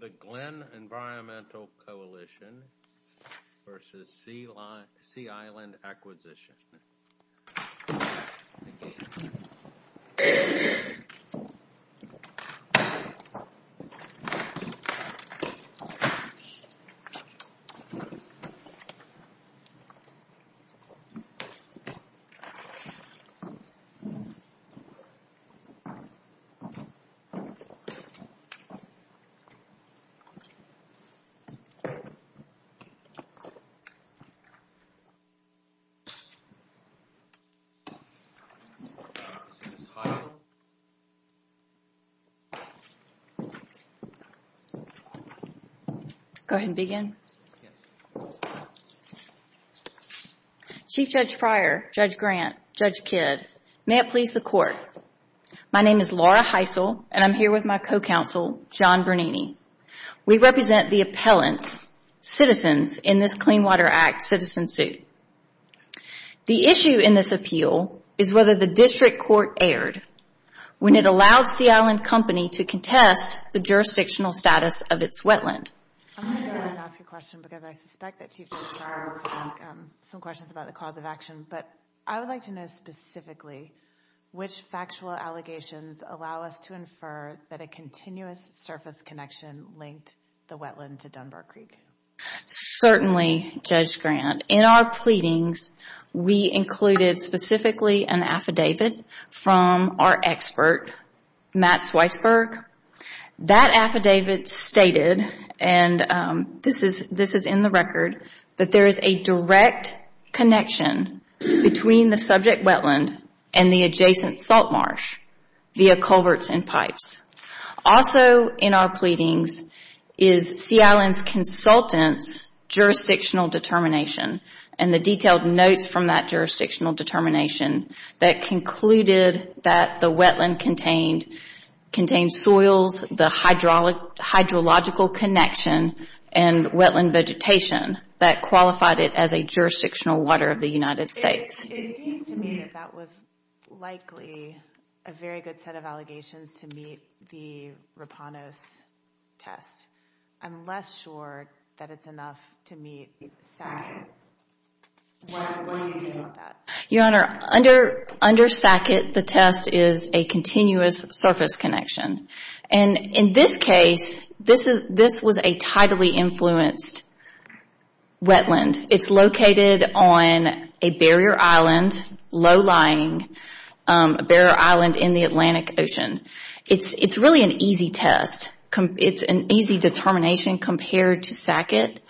The Glynn Environmental Coalition v. Sea Island Acquisition Chief Judge Pryor, Judge Grant, Judge Kidd, may it please the Court, my name is Laura Heisel and I'm here with my co-counsel, John Bernini. We represent the appellants, citizens, in this Clean Water Act citizen suit. The issue in this appeal is whether the District Court erred when it allowed Sea Island Company to contest the jurisdictional status of its wetland. I'm going to go ahead and ask a question because I suspect that Chief Judge Pryor has some questions about the cause of action, but I would like to know specifically which factual allegations allow us to infer that a continuous surface connection linked the wetland to Dunbar Creek. Certainly, Judge Grant. In our pleadings, we included specifically an affidavit from our expert, Matt Sweissberg. That affidavit stated, and this is in the record, that there is a direct connection between the subject wetland and the adjacent salt marsh via culverts and pipes. Also in our pleadings is Sea Island's consultant's jurisdictional determination and the detailed notes from that jurisdictional determination that concluded that the wetland contained soils, the hydrological connection, and wetland vegetation that qualified it as a jurisdictional water of the United States. It seems to me that that was likely a very good set of allegations to meet the Rapanos test. I'm less sure that it's enough to meet SACIT. What do you think about that? Your Honor, under SACIT, the test is a continuous surface connection. In this case, this was a tidally influenced wetland. It's located on a barrier island, low-lying, a barrier island in the Atlantic Ocean. It's really an easy test. It's an easy determination compared to SACIT.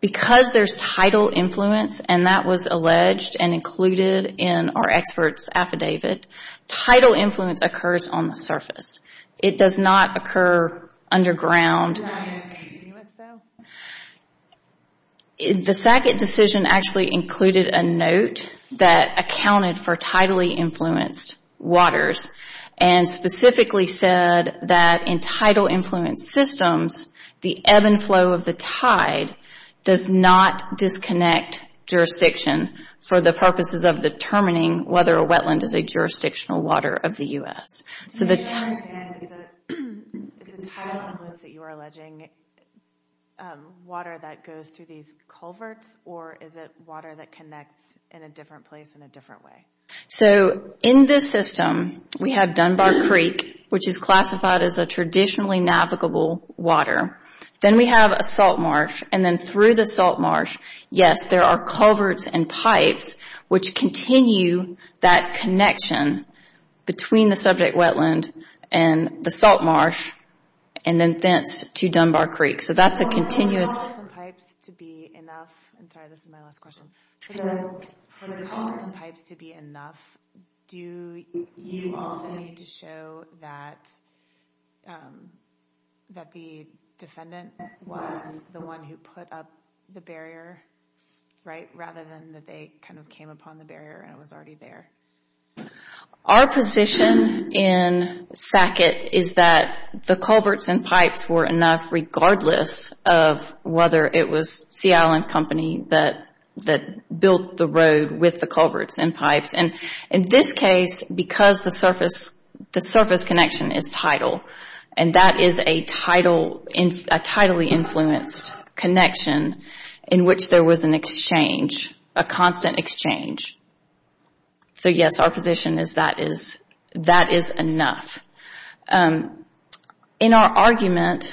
Because there's tidal influence, and that was alleged and included in our expert's affidavit, tidal influence occurs on the surface. It does not occur underground. The SACIT decision actually included a note that accounted for tidally influenced waters and specifically said that in tidal influenced systems, the ebb and flow of the tide does not disconnect jurisdiction for the purposes of determining whether a wetland is a jurisdictional water of the U.S. I don't understand. Is it tidal influence that you are alleging, water that goes through these culverts, or is it water that connects in a different place in a different way? In this system, we have Dunbar Creek, which is classified as a traditionally navigable water. Then we have a salt marsh, and then through the salt marsh, yes, there are culverts and pipes which continue that connection between the subject wetland and the salt marsh, and then thence to Dunbar Creek. For the culverts and pipes to be enough, do you also need to show that the defendant was the one who put up the barrier, rather than that they kind of came upon the barrier and it was already there? Our position in SACIT is that the culverts and pipes were enough regardless of whether it was Sea Island Company that built the road with the culverts and pipes. In this case, because the surface connection is tidal, and that is a tidally influenced connection in which there was an exchange, a constant exchange, so yes, our position is that is enough. In our argument,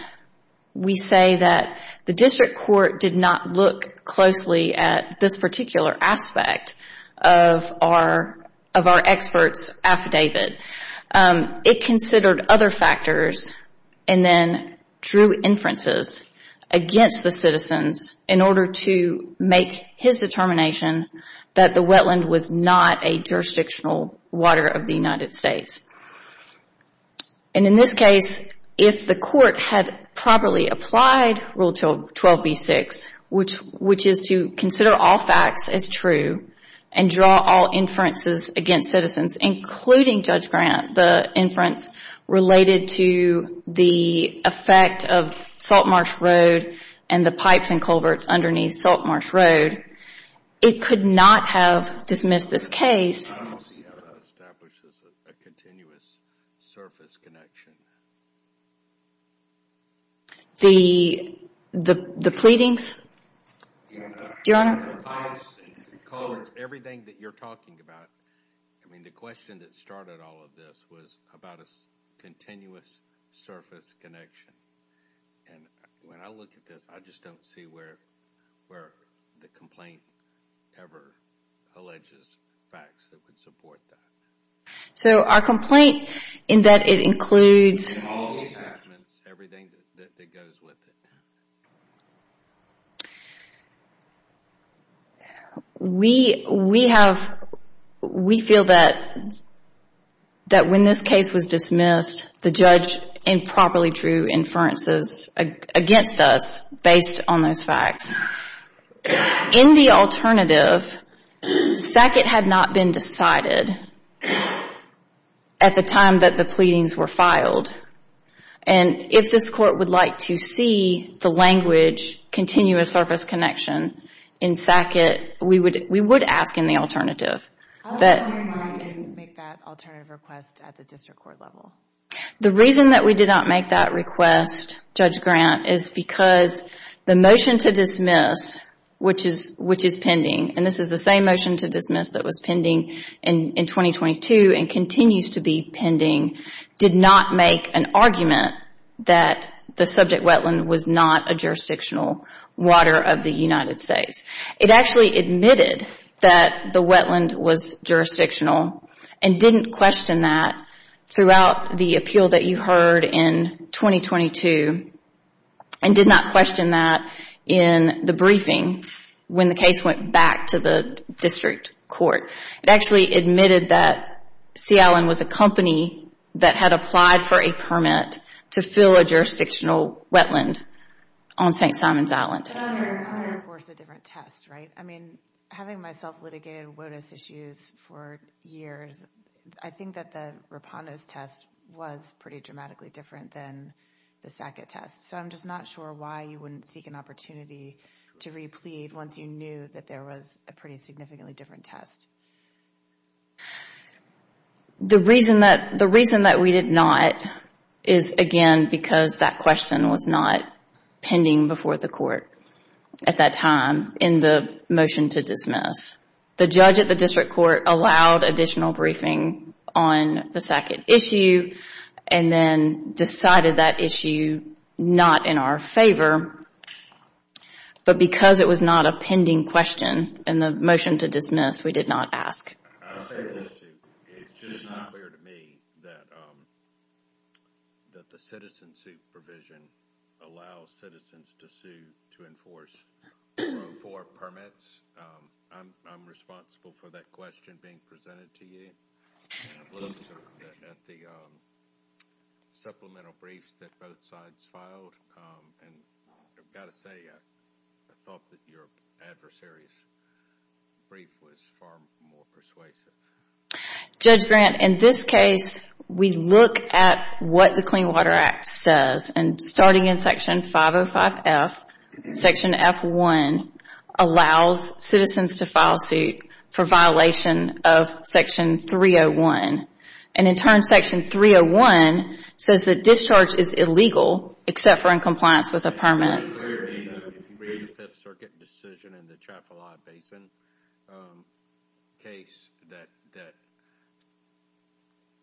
we say that the district court did not look closely at this particular aspect of our expert's affidavit. It considered other factors and then drew inferences against the citizens in order to make his determination that the wetland was not a jurisdictional water of the United States. In this case, if the court had properly applied Rule 12b6, which is to consider all facts as true and draw all inferences against citizens, including Judge Grant, the inference related to the effect of Saltmarsh Road and the pipes and culverts underneath Saltmarsh Road, it could not have dismissed this case. I don't see how that establishes a continuous surface connection. The pleadings? The pipes and culverts, everything that you're talking about. I mean, the question that started all of this was about a continuous surface connection, and when I look at this, I just don't see where the complaint ever alleges facts that would support that. So our complaint, in that it includes... All the arrangements, everything that goes with it. We feel that when this case was dismissed, the judge improperly drew inferences against us based on those facts. In the alternative, Sackett had not been decided at the time that the pleadings were filed, and if this court would like to see the language, continuous surface connection, in Sackett, we would ask in the alternative. How come you didn't make that alternative request at the district court level? The reason that we did not make that request, Judge Grant, is because the motion to dismiss, which is pending, and this is the same motion to dismiss that was pending in 2022 and continues to be pending, did not make an argument that the subject wetland was not a jurisdictional water of the United States. It actually admitted that the wetland was jurisdictional and didn't question that throughout the appeal that you heard in 2022, and did not question that in the briefing when the case went back to the district court. It actually admitted that Sea Island was a company that had applied for a permit to fill a jurisdictional wetland on St. Simons Island. But I'm hearing, of course, a different test, right? I mean, having myself litigated on WOTUS issues for years, I think that the Rapando's test was pretty dramatically different than the Sackett test, so I'm just not sure why you wouldn't seek an opportunity to re-plead once you knew that there was a pretty significantly different test. The reason that we did not is, again, because that question was not pending before the court at that time in the motion to dismiss. The judge at the district court allowed additional briefing on the Sackett issue and then decided that issue not in our favor, but because the it was not a pending question in the motion to dismiss, we did not ask. I'll say this too. It's just not clear to me that the citizen supervision allows citizens to sue to enforce 404 permits. I'm responsible for that question being presented to you. I looked at the supplemental briefs that both sides filed, and I've got to say, I thought that your adversary's brief was far more persuasive. Judge Grant, in this case, we look at what the Clean Water Act says, and starting in section 505F, section F1 allows citizens to file suit for violation of section 301, and in turn, section 301 says that discharge is illegal except for in compliance with a permit. There's a decision in the Trafalgar Basin case that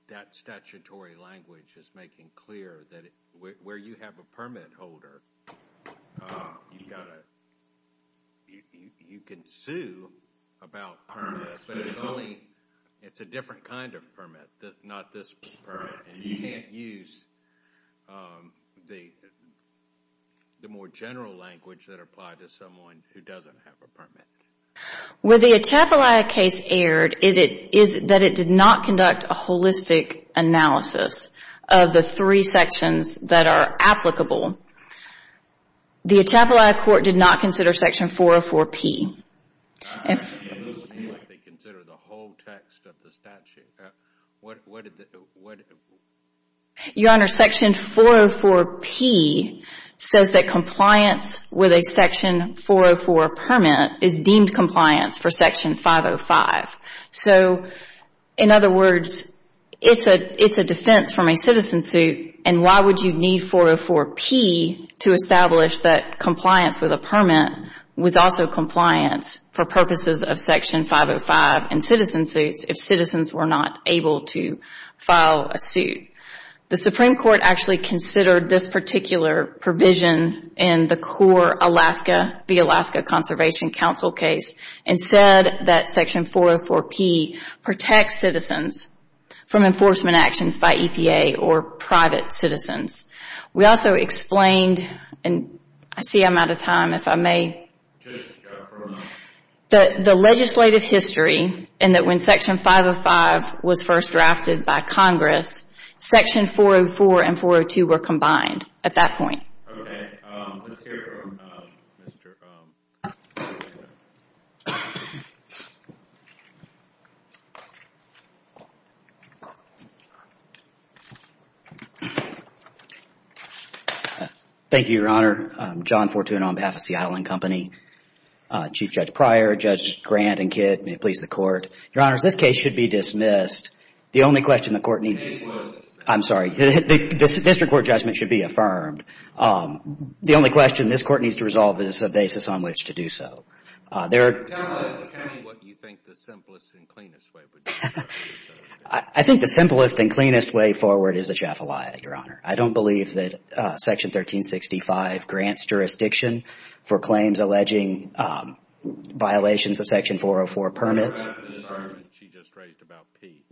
that statutory language is making clear that where you have a permit holder, you can sue about permits, but it's a different kind of permit, not this permit. You can't use the more general language that would apply to someone who doesn't have a permit. Where the Atchafalaya case erred is that it did not conduct a holistic analysis of the three sections that are applicable. The Atchafalaya court did not consider section 404P. I'm asking you what they consider the whole text of the statute. Your Honor, section 404P says that compliance with a section 404 permit is deemed compliance for section 505. In other words, it's a defense from a citizen suit, and why would you need 404P to establish that compliance with a permit was also compliance for purposes of section 505 and citizen suits if citizens were not able to file a suit. The Supreme Court actually considered this particular provision in the core Alaska, the Alaska Conservation Council case and said that section 404P protects citizens from enforcement actions by EPA or private citizens. We also explained, and I see I'm out of time if I may, that the legislative history and that when section 505 was first drafted by Congress, section 404 and 402 were combined at that point. Okay, let's hear from Mr. Fortuna. Thank you, Your Honor. I'm John Fortuna on behalf of Seattle & Company. Chief Judge Pryor, Judges Grant and Kidd, may it please the Court. Your Honors, this case should be dismissed. The only question the Court needs to... The case was dismissed. I'm sorry. The district court judgment should be affirmed. The only question this Court needs to resolve is a basis on which to do so. Tell us what you think the simplest and cleanest way would be to do so. I think the simplest and cleanest way forward is a Jaffa lie, Your Honor. I don't believe that section 1365 grants jurisdiction for claims alleging violations of section 404 permits. What about the discernment she just raised about P?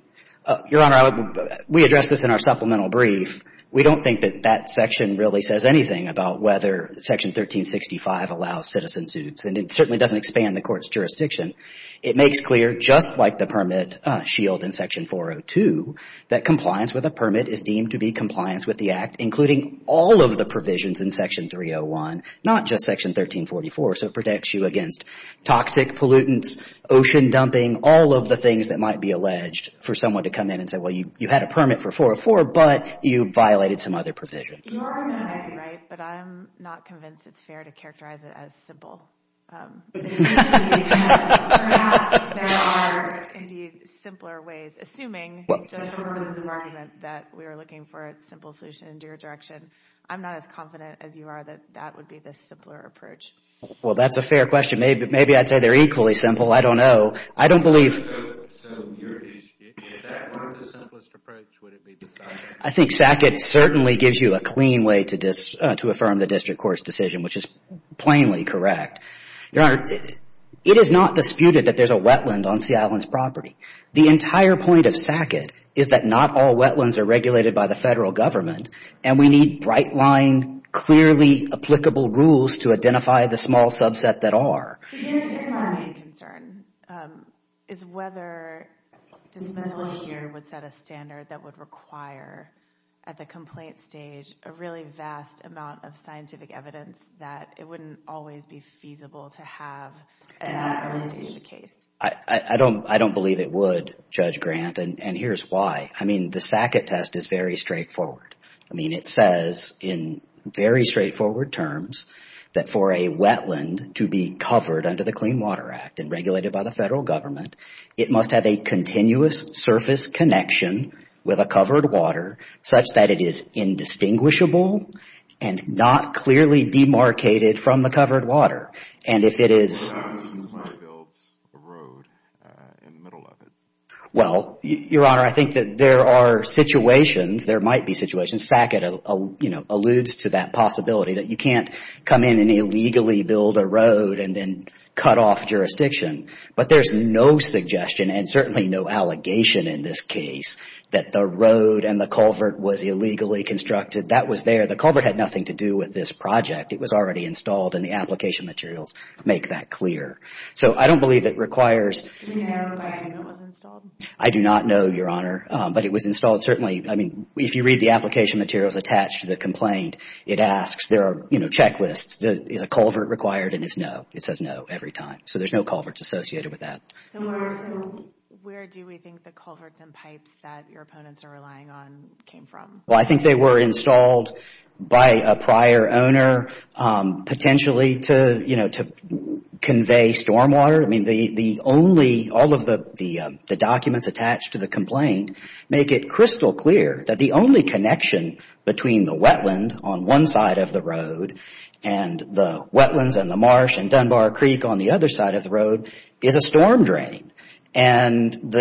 Your Honor, we addressed this in our supplemental brief. We don't think that that section really says anything about whether section 1365 allows citizen suits, and it certainly doesn't expand the Court's jurisdiction. It makes clear, just like the permit shield in section 402, that compliance with a permit is deemed to be compliance with the Act, including all of the provisions in section 301, not just section 1344. So it protects you against toxic pollutants, ocean dumping, all of the things that might be alleged for someone to come in and say, well, you had a permit for 404, but you violated some other provision. Your argument might be right, but I'm not convinced it's fair to characterize it as simple. Perhaps there are, indeed, simpler ways. Assuming, just for the purposes of argument, that we are looking for a simple solution in your direction, I'm not as confident as you are that that would be the simpler approach. Well, that's a fair question. Maybe I'd say they're equally simple. I don't know. I don't believe... So, your issue is that one of the simplest approaches would be the SACCET. I think SACCET certainly gives you a clean way to affirm the District Court's decision, which is plainly correct. Your Honor, it is not disputed that there's a wetland on Sea Island's property. The entire point of SACCET is that not all wetlands are regulated by the Federal Government, and we need bright-line, clearly applicable rules to identify the small subset that are. My main concern is whether disability here would set a standard that would require, at the complaint stage, a really vast amount of scientific evidence that it wouldn't always be feasible to have at the time of receiving the case. I don't believe it would, Judge Grant, and here's why. I mean, the SACCET test is very straightforward. I mean, it says in very straightforward terms that for a wetland to be covered under the Clean Water Act and regulated by the Federal Government, it must have a continuous surface connection with a covered water such that it is indistinguishable and not clearly demarcated from the covered water. And if it is... Somebody builds a road in the middle of it. Well, Your Honor, I think that there are situations, there might be situations, SACCET alludes to that possibility, that you can't come in and illegally build a road and then cut off jurisdiction. But there's no suggestion and certainly no allegation in this case that the road and the culvert was illegally constructed. That was there. The culvert had nothing to do with this project. It was already installed and the application materials make that clear. So I don't believe it requires... Do you know when it was installed? I do not know, Your Honor, but it was installed. Certainly, I mean, if you read the application materials attached to the complaint, it asks, there are, you know, checklists. Is a culvert required? And it's no. It says no every time. So there's no culverts associated with that. Where do we think the culverts and pipes that your opponents are relying on came from? Well, I think they were installed by a prior owner potentially to, you know, to convey stormwater. I mean, the only, all of the documents attached to the complaint make it crystal clear that the only connection between the wetland on one side of the road and the wetlands and the marsh and Dunbar Creek on the other side of the road is a storm drain. And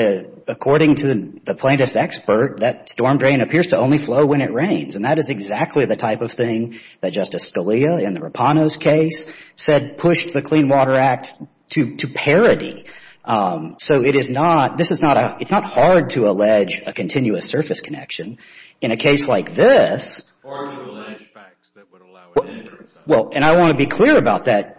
according to the plaintiff's expert, that storm drain appears to only flow when it rains. And that is exactly the type of thing that Justice Scalia in the Rapano's case said pushed the Clean Water Act to parody. So it is not, this is not a, it's not hard to allege a continuous surface connection in a case like this. Or to allege facts that would allow it in. Well, and I want to be clear about that,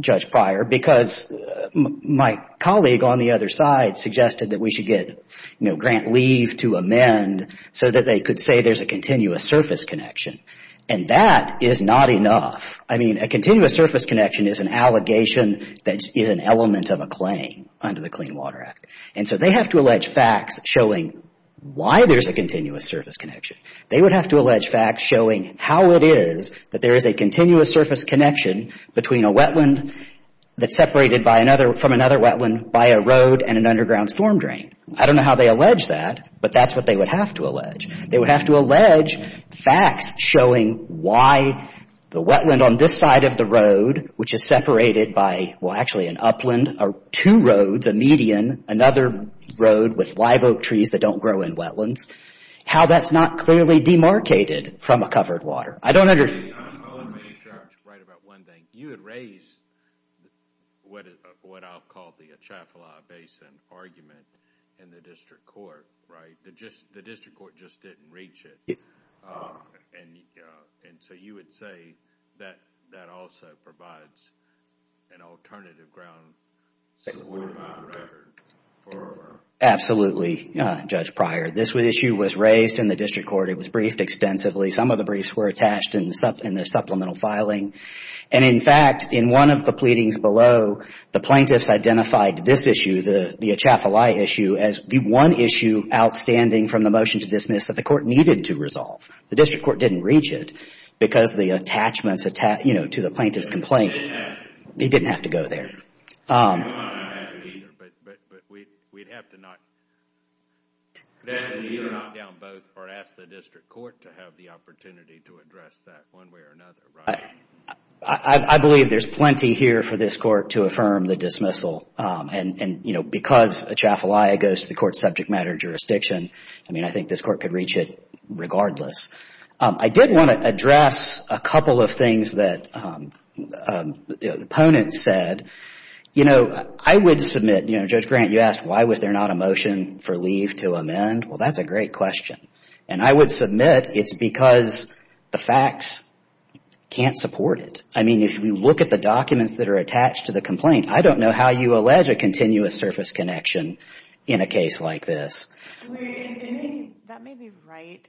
Judge Pryor, because my colleague on the other side suggested that we should get, you know, grant leave to amend so that they could say there's a continuous surface connection. And that is not enough. I mean, a continuous surface connection is an allegation that is an element of a claim under the Clean Water Act. And so they have to allege facts showing why there's a continuous surface connection. They would have to allege facts showing how it is that there is a continuous surface connection between a wetland that's separated by another, from another wetland by a road and an underground storm drain. I don't know how they allege that, but that's what they would have to allege. They would have to allege facts showing why the wetland on this side of the road, which is separated by, well, actually an upland, or two roads, a median, another road with live oak trees that don't grow in wetlands, how that's not clearly demarcated from a covered water. I don't understand. Let me start right about one thing. You had raised what I'll call the Atchafalaya Basin argument in the district court, right? The district court just didn't reach it. And so you would say that that also provides an alternative ground to the Woodlawn record forever? Absolutely, Judge Pryor. This issue was raised in the district court. It was briefed extensively. Some of the briefs were attached in the supplemental filing. And, in fact, in one of the pleadings below, the plaintiffs identified this issue, the Atchafalaya issue, as the one issue outstanding from the motion to dismiss that the court needed to resolve. The district court didn't reach it because the attachments to the plaintiff's complaint, they didn't have to go there. But we'd have to either knock down both or ask the district court to have the opportunity to address that one way or another, right? I believe there's plenty here for this court to affirm the dismissal. And, you know, because Atchafalaya goes to the court's subject matter jurisdiction, I mean, I think this court could reach it regardless. I did want to address a couple of things that opponents said. You know, I would submit, you know, Judge Grant, you asked why was there not a motion for leave to amend. Well, that's a great question. And I would submit it's because the facts can't support it. I mean, if you look at the documents that are attached to the complaint, I don't know how you allege a continuous surface connection in a case like this. That may be right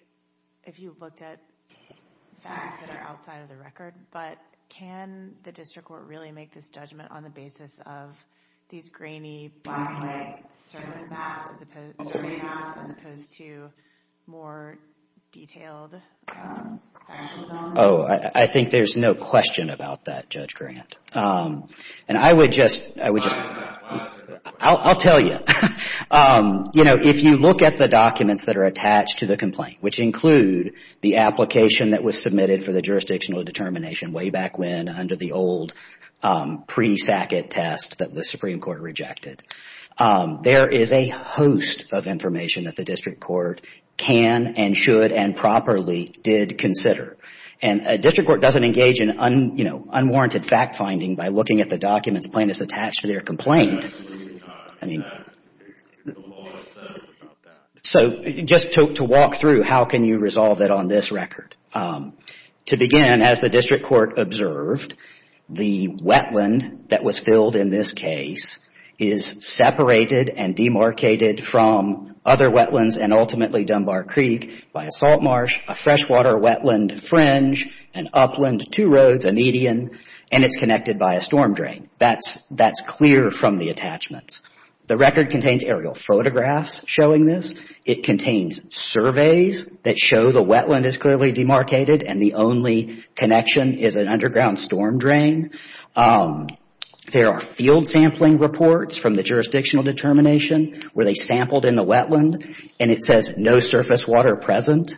if you looked at facts that are outside of the record. But can the district court really make this judgment on the basis of these grainy black and white survey maps as opposed to more detailed factual data? Oh, I think there's no question about that, Judge Grant. And I would just, I'll tell you. You know, if you look at the documents that are attached to the complaint, which include the application that was submitted for the jurisdictional determination way back when under the old pre-SACIT test that the Supreme Court rejected, there is a host of information that the district court can and should and properly did consider. And a district court doesn't engage in, you know, unwarranted fact finding by looking at the documents plaintiffs attached to their complaint. Absolutely not. The law says it's not that. So just to walk through, how can you resolve it on this record? To begin, as the district court observed, the wetland that was filled in this case is separated and demarcated from other wetlands and ultimately Dunbar Creek by a salt marsh, a freshwater wetland fringe, an upland, two roads, a median, and it's connected by a storm drain. That's clear from the attachments. The record contains aerial photographs showing this. It contains surveys that show the wetland is clearly demarcated and the only connection is an underground storm drain. There are field sampling reports from the jurisdictional determination where they sampled in the wetland and it says that no surface water present.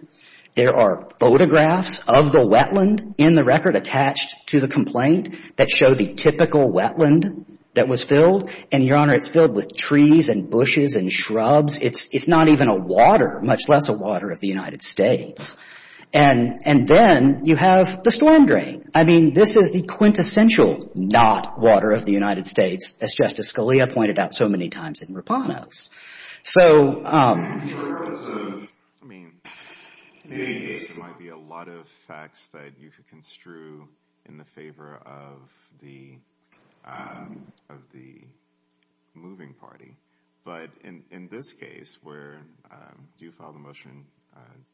There are photographs of the wetland in the record attached to the complaint that show the typical wetland that was filled. And, Your Honor, it's filled with trees and bushes and shrubs. It's not even a water, much less a water of the United States. And then you have the storm drain. I mean, this is the quintessential not water of the United States, as Justice Scalia pointed out so many times in Rapanos. So, I mean, there might be a lot of facts that you could construe in the favor of the of the moving party. But in this case, where do you file the motion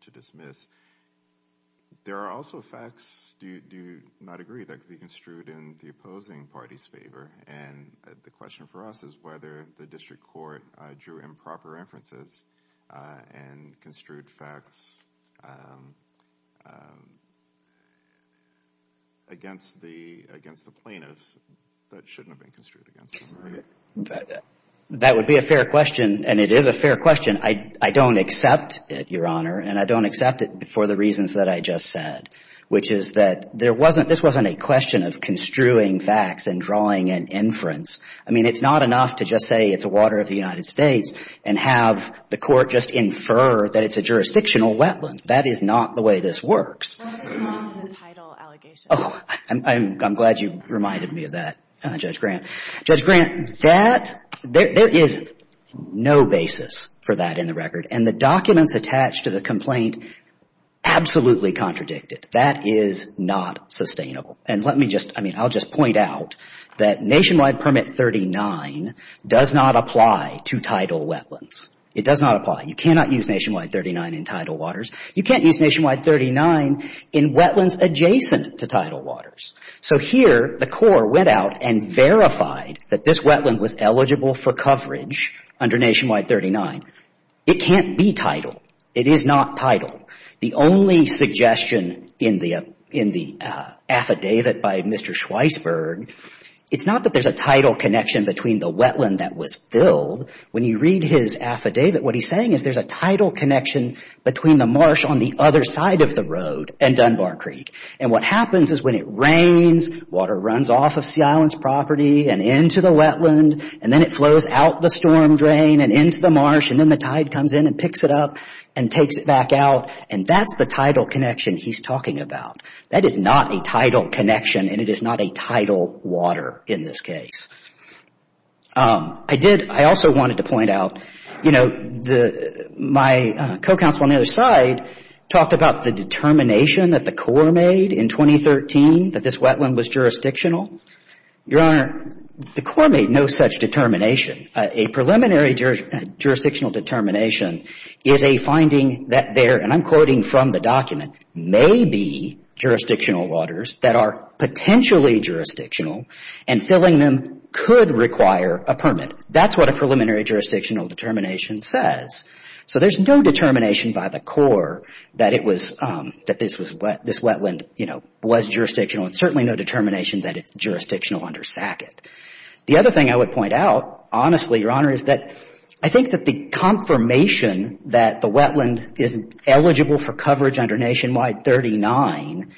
to dismiss? There are also facts, do you not agree, that could be construed in the opposing party's favor? And the question for us is whether the district court drew improper references and construed facts against the against the plaintiffs that shouldn't have been construed against them. That would be a fair question. And it is a fair question. I don't accept it, Your Honor. And I don't accept it for the reasons that I just said, which is that there wasn't this wasn't a of construing facts and drawing an inference. I mean, it's not enough to just say it's a water of the United States and have the court just infer that it's a jurisdictional wetland. That is not the way this works. Oh, I'm glad you reminded me of that, Judge Grant. Judge Grant, that there is no basis for that in the record. And the documents attached to the complaint absolutely contradict it. That is not sustainable. And let me just I mean, I'll just point out that Nationwide Permit 39 does not apply to tidal wetlands. It does not apply. You cannot use Nationwide 39 in tidal waters. You can't use Nationwide 39 in wetlands adjacent to tidal waters. So here the court went out and verified that this wetland was eligible for coverage under Nationwide 39. It can't be tidal. It is not tidal. The only suggestion in the in the affidavit by Mr. Schweisberg, it's not that there's a tidal connection between the wetland that was filled. When you read his affidavit, what he's saying is there's a tidal connection between the marsh on the other side of the road and Dunbar Creek. And what happens is when it rains, water runs off of Sea Island's property and into the wetland. And then it flows out the storm drain and into the marsh. And then the tide comes in and picks it up and takes it back out. And that's the tidal connection he's talking about. That is not a tidal connection. And it is not a tidal water in this case. I did I also wanted to point out, you know, the my co-counsel on the other side talked about the determination that the Corps made in 2013 that this wetland was jurisdictional. Your Honor, the Corps made no such determination. A preliminary jurisdictional determination is a finding that there, and I'm quoting from the document, may be jurisdictional waters that are potentially jurisdictional and filling them could require a permit. That's what a preliminary jurisdictional determination says. So there's no determination by the Corps that it was that this was what this wetland, you know, was jurisdictional and certainly no determination that it's jurisdictional under SACIT. The other thing I would point out, honestly, Your Honor, is that I think that the confirmation that the wetland is eligible for coverage under Nationwide 39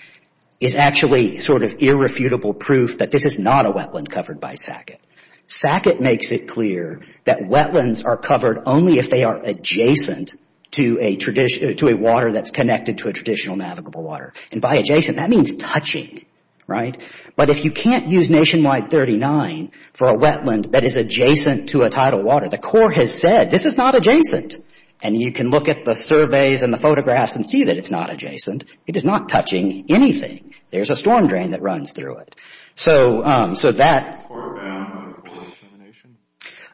is actually sort of irrefutable proof that this is not a wetland covered by SACIT. SACIT makes it clear that wetlands are covered only if they are adjacent to a tradition to a water that's connected to a traditional navigable water. And by adjacent, that means touching, right? But if you can't use Nationwide 39 for a wetland that is adjacent to a tidal water, the Corps has said this is not adjacent. And you can look at the surveys and the photographs and see that it's not adjacent. It is not touching anything. There's a storm drain that runs through it. So, so that... Is the Corps bound under a preliminary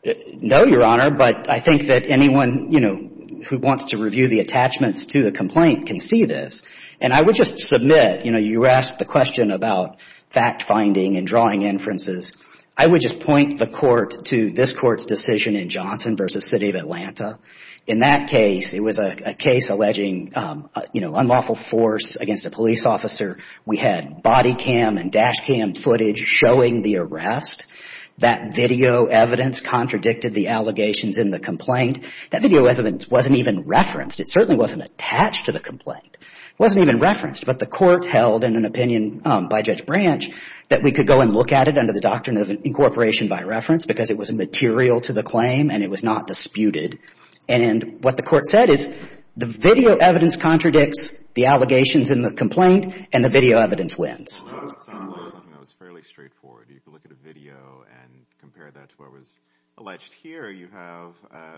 determination? No, Your Honor, but I think that anyone, you know, who wants to review the attachments to the complaint can see this. And I would just submit, you know, you asked the question about fact-finding and drawing inferences. I would just point the Court to this Court's decision in Johnson v. City of Atlanta. In that case, it was a case alleging, you know, unlawful force against a police officer. We had body cam and dash cam footage showing the arrest. That video evidence contradicted the allegations in the complaint. That video evidence wasn't even referenced. It certainly wasn't attached to the complaint. It wasn't even referenced. But the Court held in an opinion by Judge Branch that we could go and look at it under the doctrine of incorporation by reference because it was a material to the claim and it was not disputed. And what the Court said is the video evidence contradicts the allegations in the complaint and the video evidence wins. Well, that sounds like something that was fairly straightforward. You could look at a video and compare that to what was alleged here. You have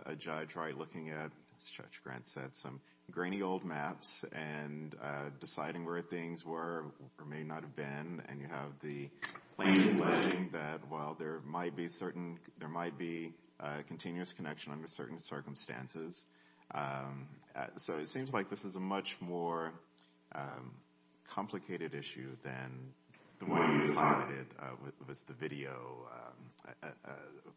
a judge right looking at, as Judge Grant said, some grainy old maps and deciding where things were or may not have been. And you have the claim alleging that while there might be certain, there might be a continuous connection under certain circumstances. So it seems like this is a much more complicated issue than the one you cited with the video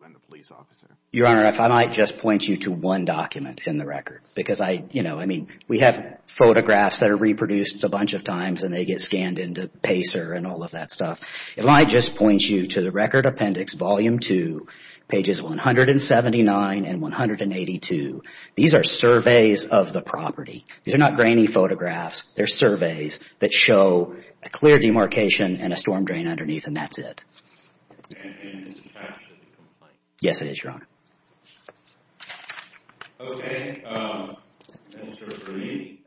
and the police officer. Your Honor, if I might just point you to one document in the record because I, you know, I mean, we have photographs that are reproduced a bunch of times and they get scanned into Pacer and all of that stuff. If I might just point you to the Record Appendix, Volume 2, pages 179 and 182. These are surveys of the property. These are not grainy photographs. They're surveys that show a clear demarcation and a storm drain underneath and that's it. And it's attached to the complaint? Yes, it is, Your Honor. Okay, Mr. Green,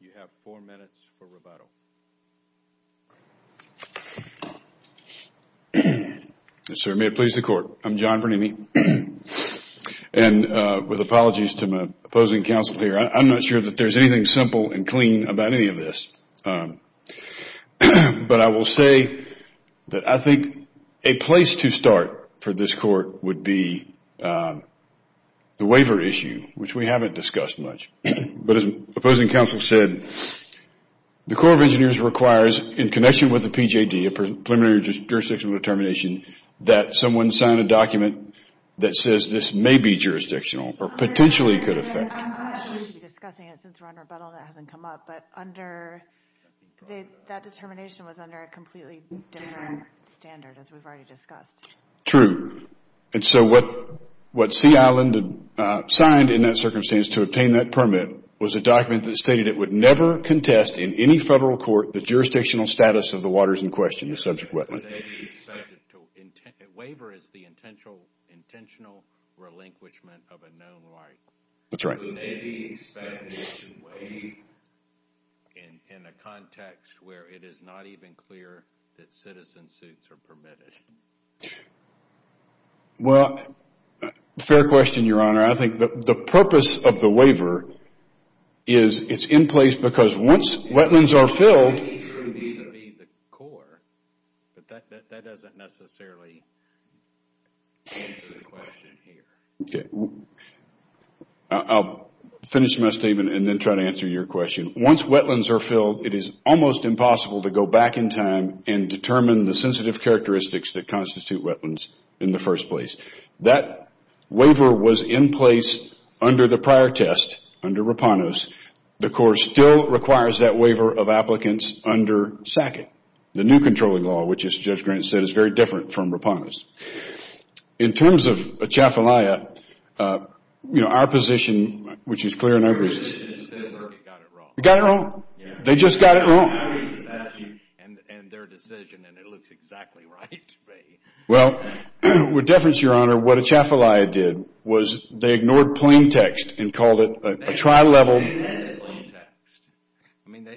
you have four minutes for rebuttal. Yes, sir. May it please the Court. I'm John Bernini. And with apologies to my opposing counsel here, I'm not sure that there's anything simple and clean about any of this. But I will say that I think a place to start for this Court would be the waiver issue, which we haven't discussed much. But as opposing counsel said, the Corps of Engineers requires, in connection with the PJD, Preliminary Jurisdictional Determination, that someone sign a document that says this may be jurisdictional or potentially could affect. I'm not sure we should be discussing it since we're on rebuttal and it hasn't come up. But that determination was under a completely different standard, as we've already discussed. True. And so what Sea Island signed in that circumstance to obtain that permit was a contest in any federal court, the jurisdictional status of the waters in question, the subject wetland. Waiver is the intentional relinquishment of a known right. That's right. Would it be expected to waive in a context where it is not even clear that citizen suits are permitted? Well, fair question, Your Honor. I think the purpose of the waiver is it's in place because once wetlands are filled... It could be the Corps, but that doesn't necessarily answer the question here. Okay. I'll finish my statement and then try to answer your question. Once wetlands are filled, it is almost impossible to go back in time and determine the sensitive characteristics that constitute wetlands in the first place. That waiver was in place under the prior test, under Rapanos. The Corps still requires that waiver of applicants under SACCET, the new controlling law, which, as Judge Grant said, is very different from Rapanos. In terms of Atchafalaya, our position, which is clear in every... Your position is that they got it wrong. They got it wrong. They just got it wrong. And their decision, and it looks exactly right. Well, with deference, Your Honor, what Atchafalaya did was they ignored plain text and called a trial level... I mean,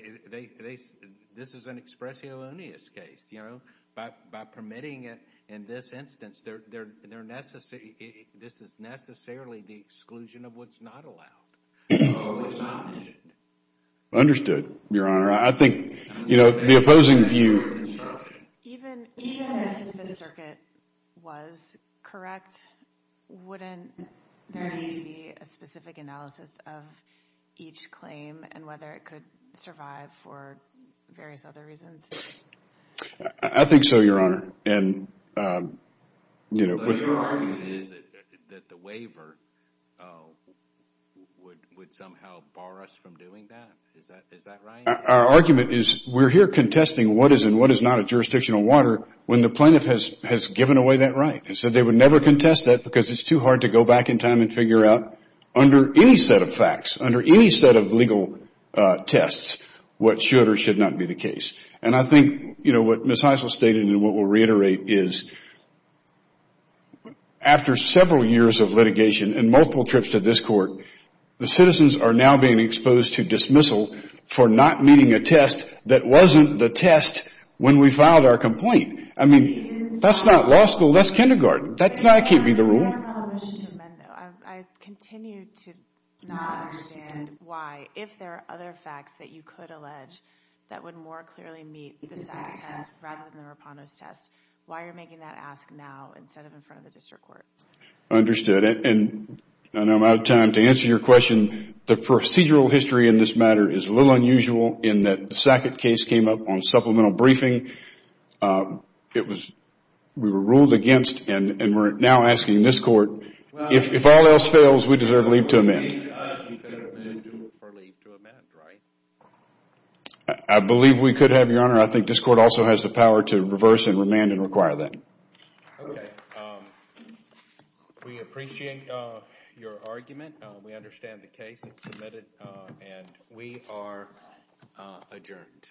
this is an expression of a case. By permitting it in this instance, this is necessarily the exclusion of what's not allowed. Understood, Your Honor. I think the opposing view... Even if the circuit was correct, wouldn't there need to be a specific analysis of each claim and whether it could survive for various other reasons? I think so, Your Honor. That the waiver would somehow bar us from doing that? Is that right? Our argument is we're here contesting what is and what is not a jurisdictional water when the plaintiff has given away that right and said they would never contest that because it's too hard to go back in time and figure out under any set of facts, under any set of legal tests, what should or should not be the case. And I think what Ms. Heisel stated and what we'll reiterate is after several years of litigation and multiple trips to this court, the citizens are now being exposed to dismissal for not meeting a test that wasn't the test when we filed our complaint. I mean, that's not law school, that's kindergarten. That can't be the rule. I continue to not understand why, if there are other facts that you could allege that would more clearly meet the SAT test rather than the Raponos test, why are you making that ask now instead of in front of the district court? Understood. And I'm out of time to answer your question. The procedural history in this matter is a little unusual in that the Sackett case came up on supplemental briefing. We were ruled against and we're now asking this court, if all else fails, we deserve leave to amend. I believe we could have, Your Honor. I think this court also has the power to reverse and remand and require that. Okay. We appreciate your argument. We understand the case. It's submitted and we are adjourned.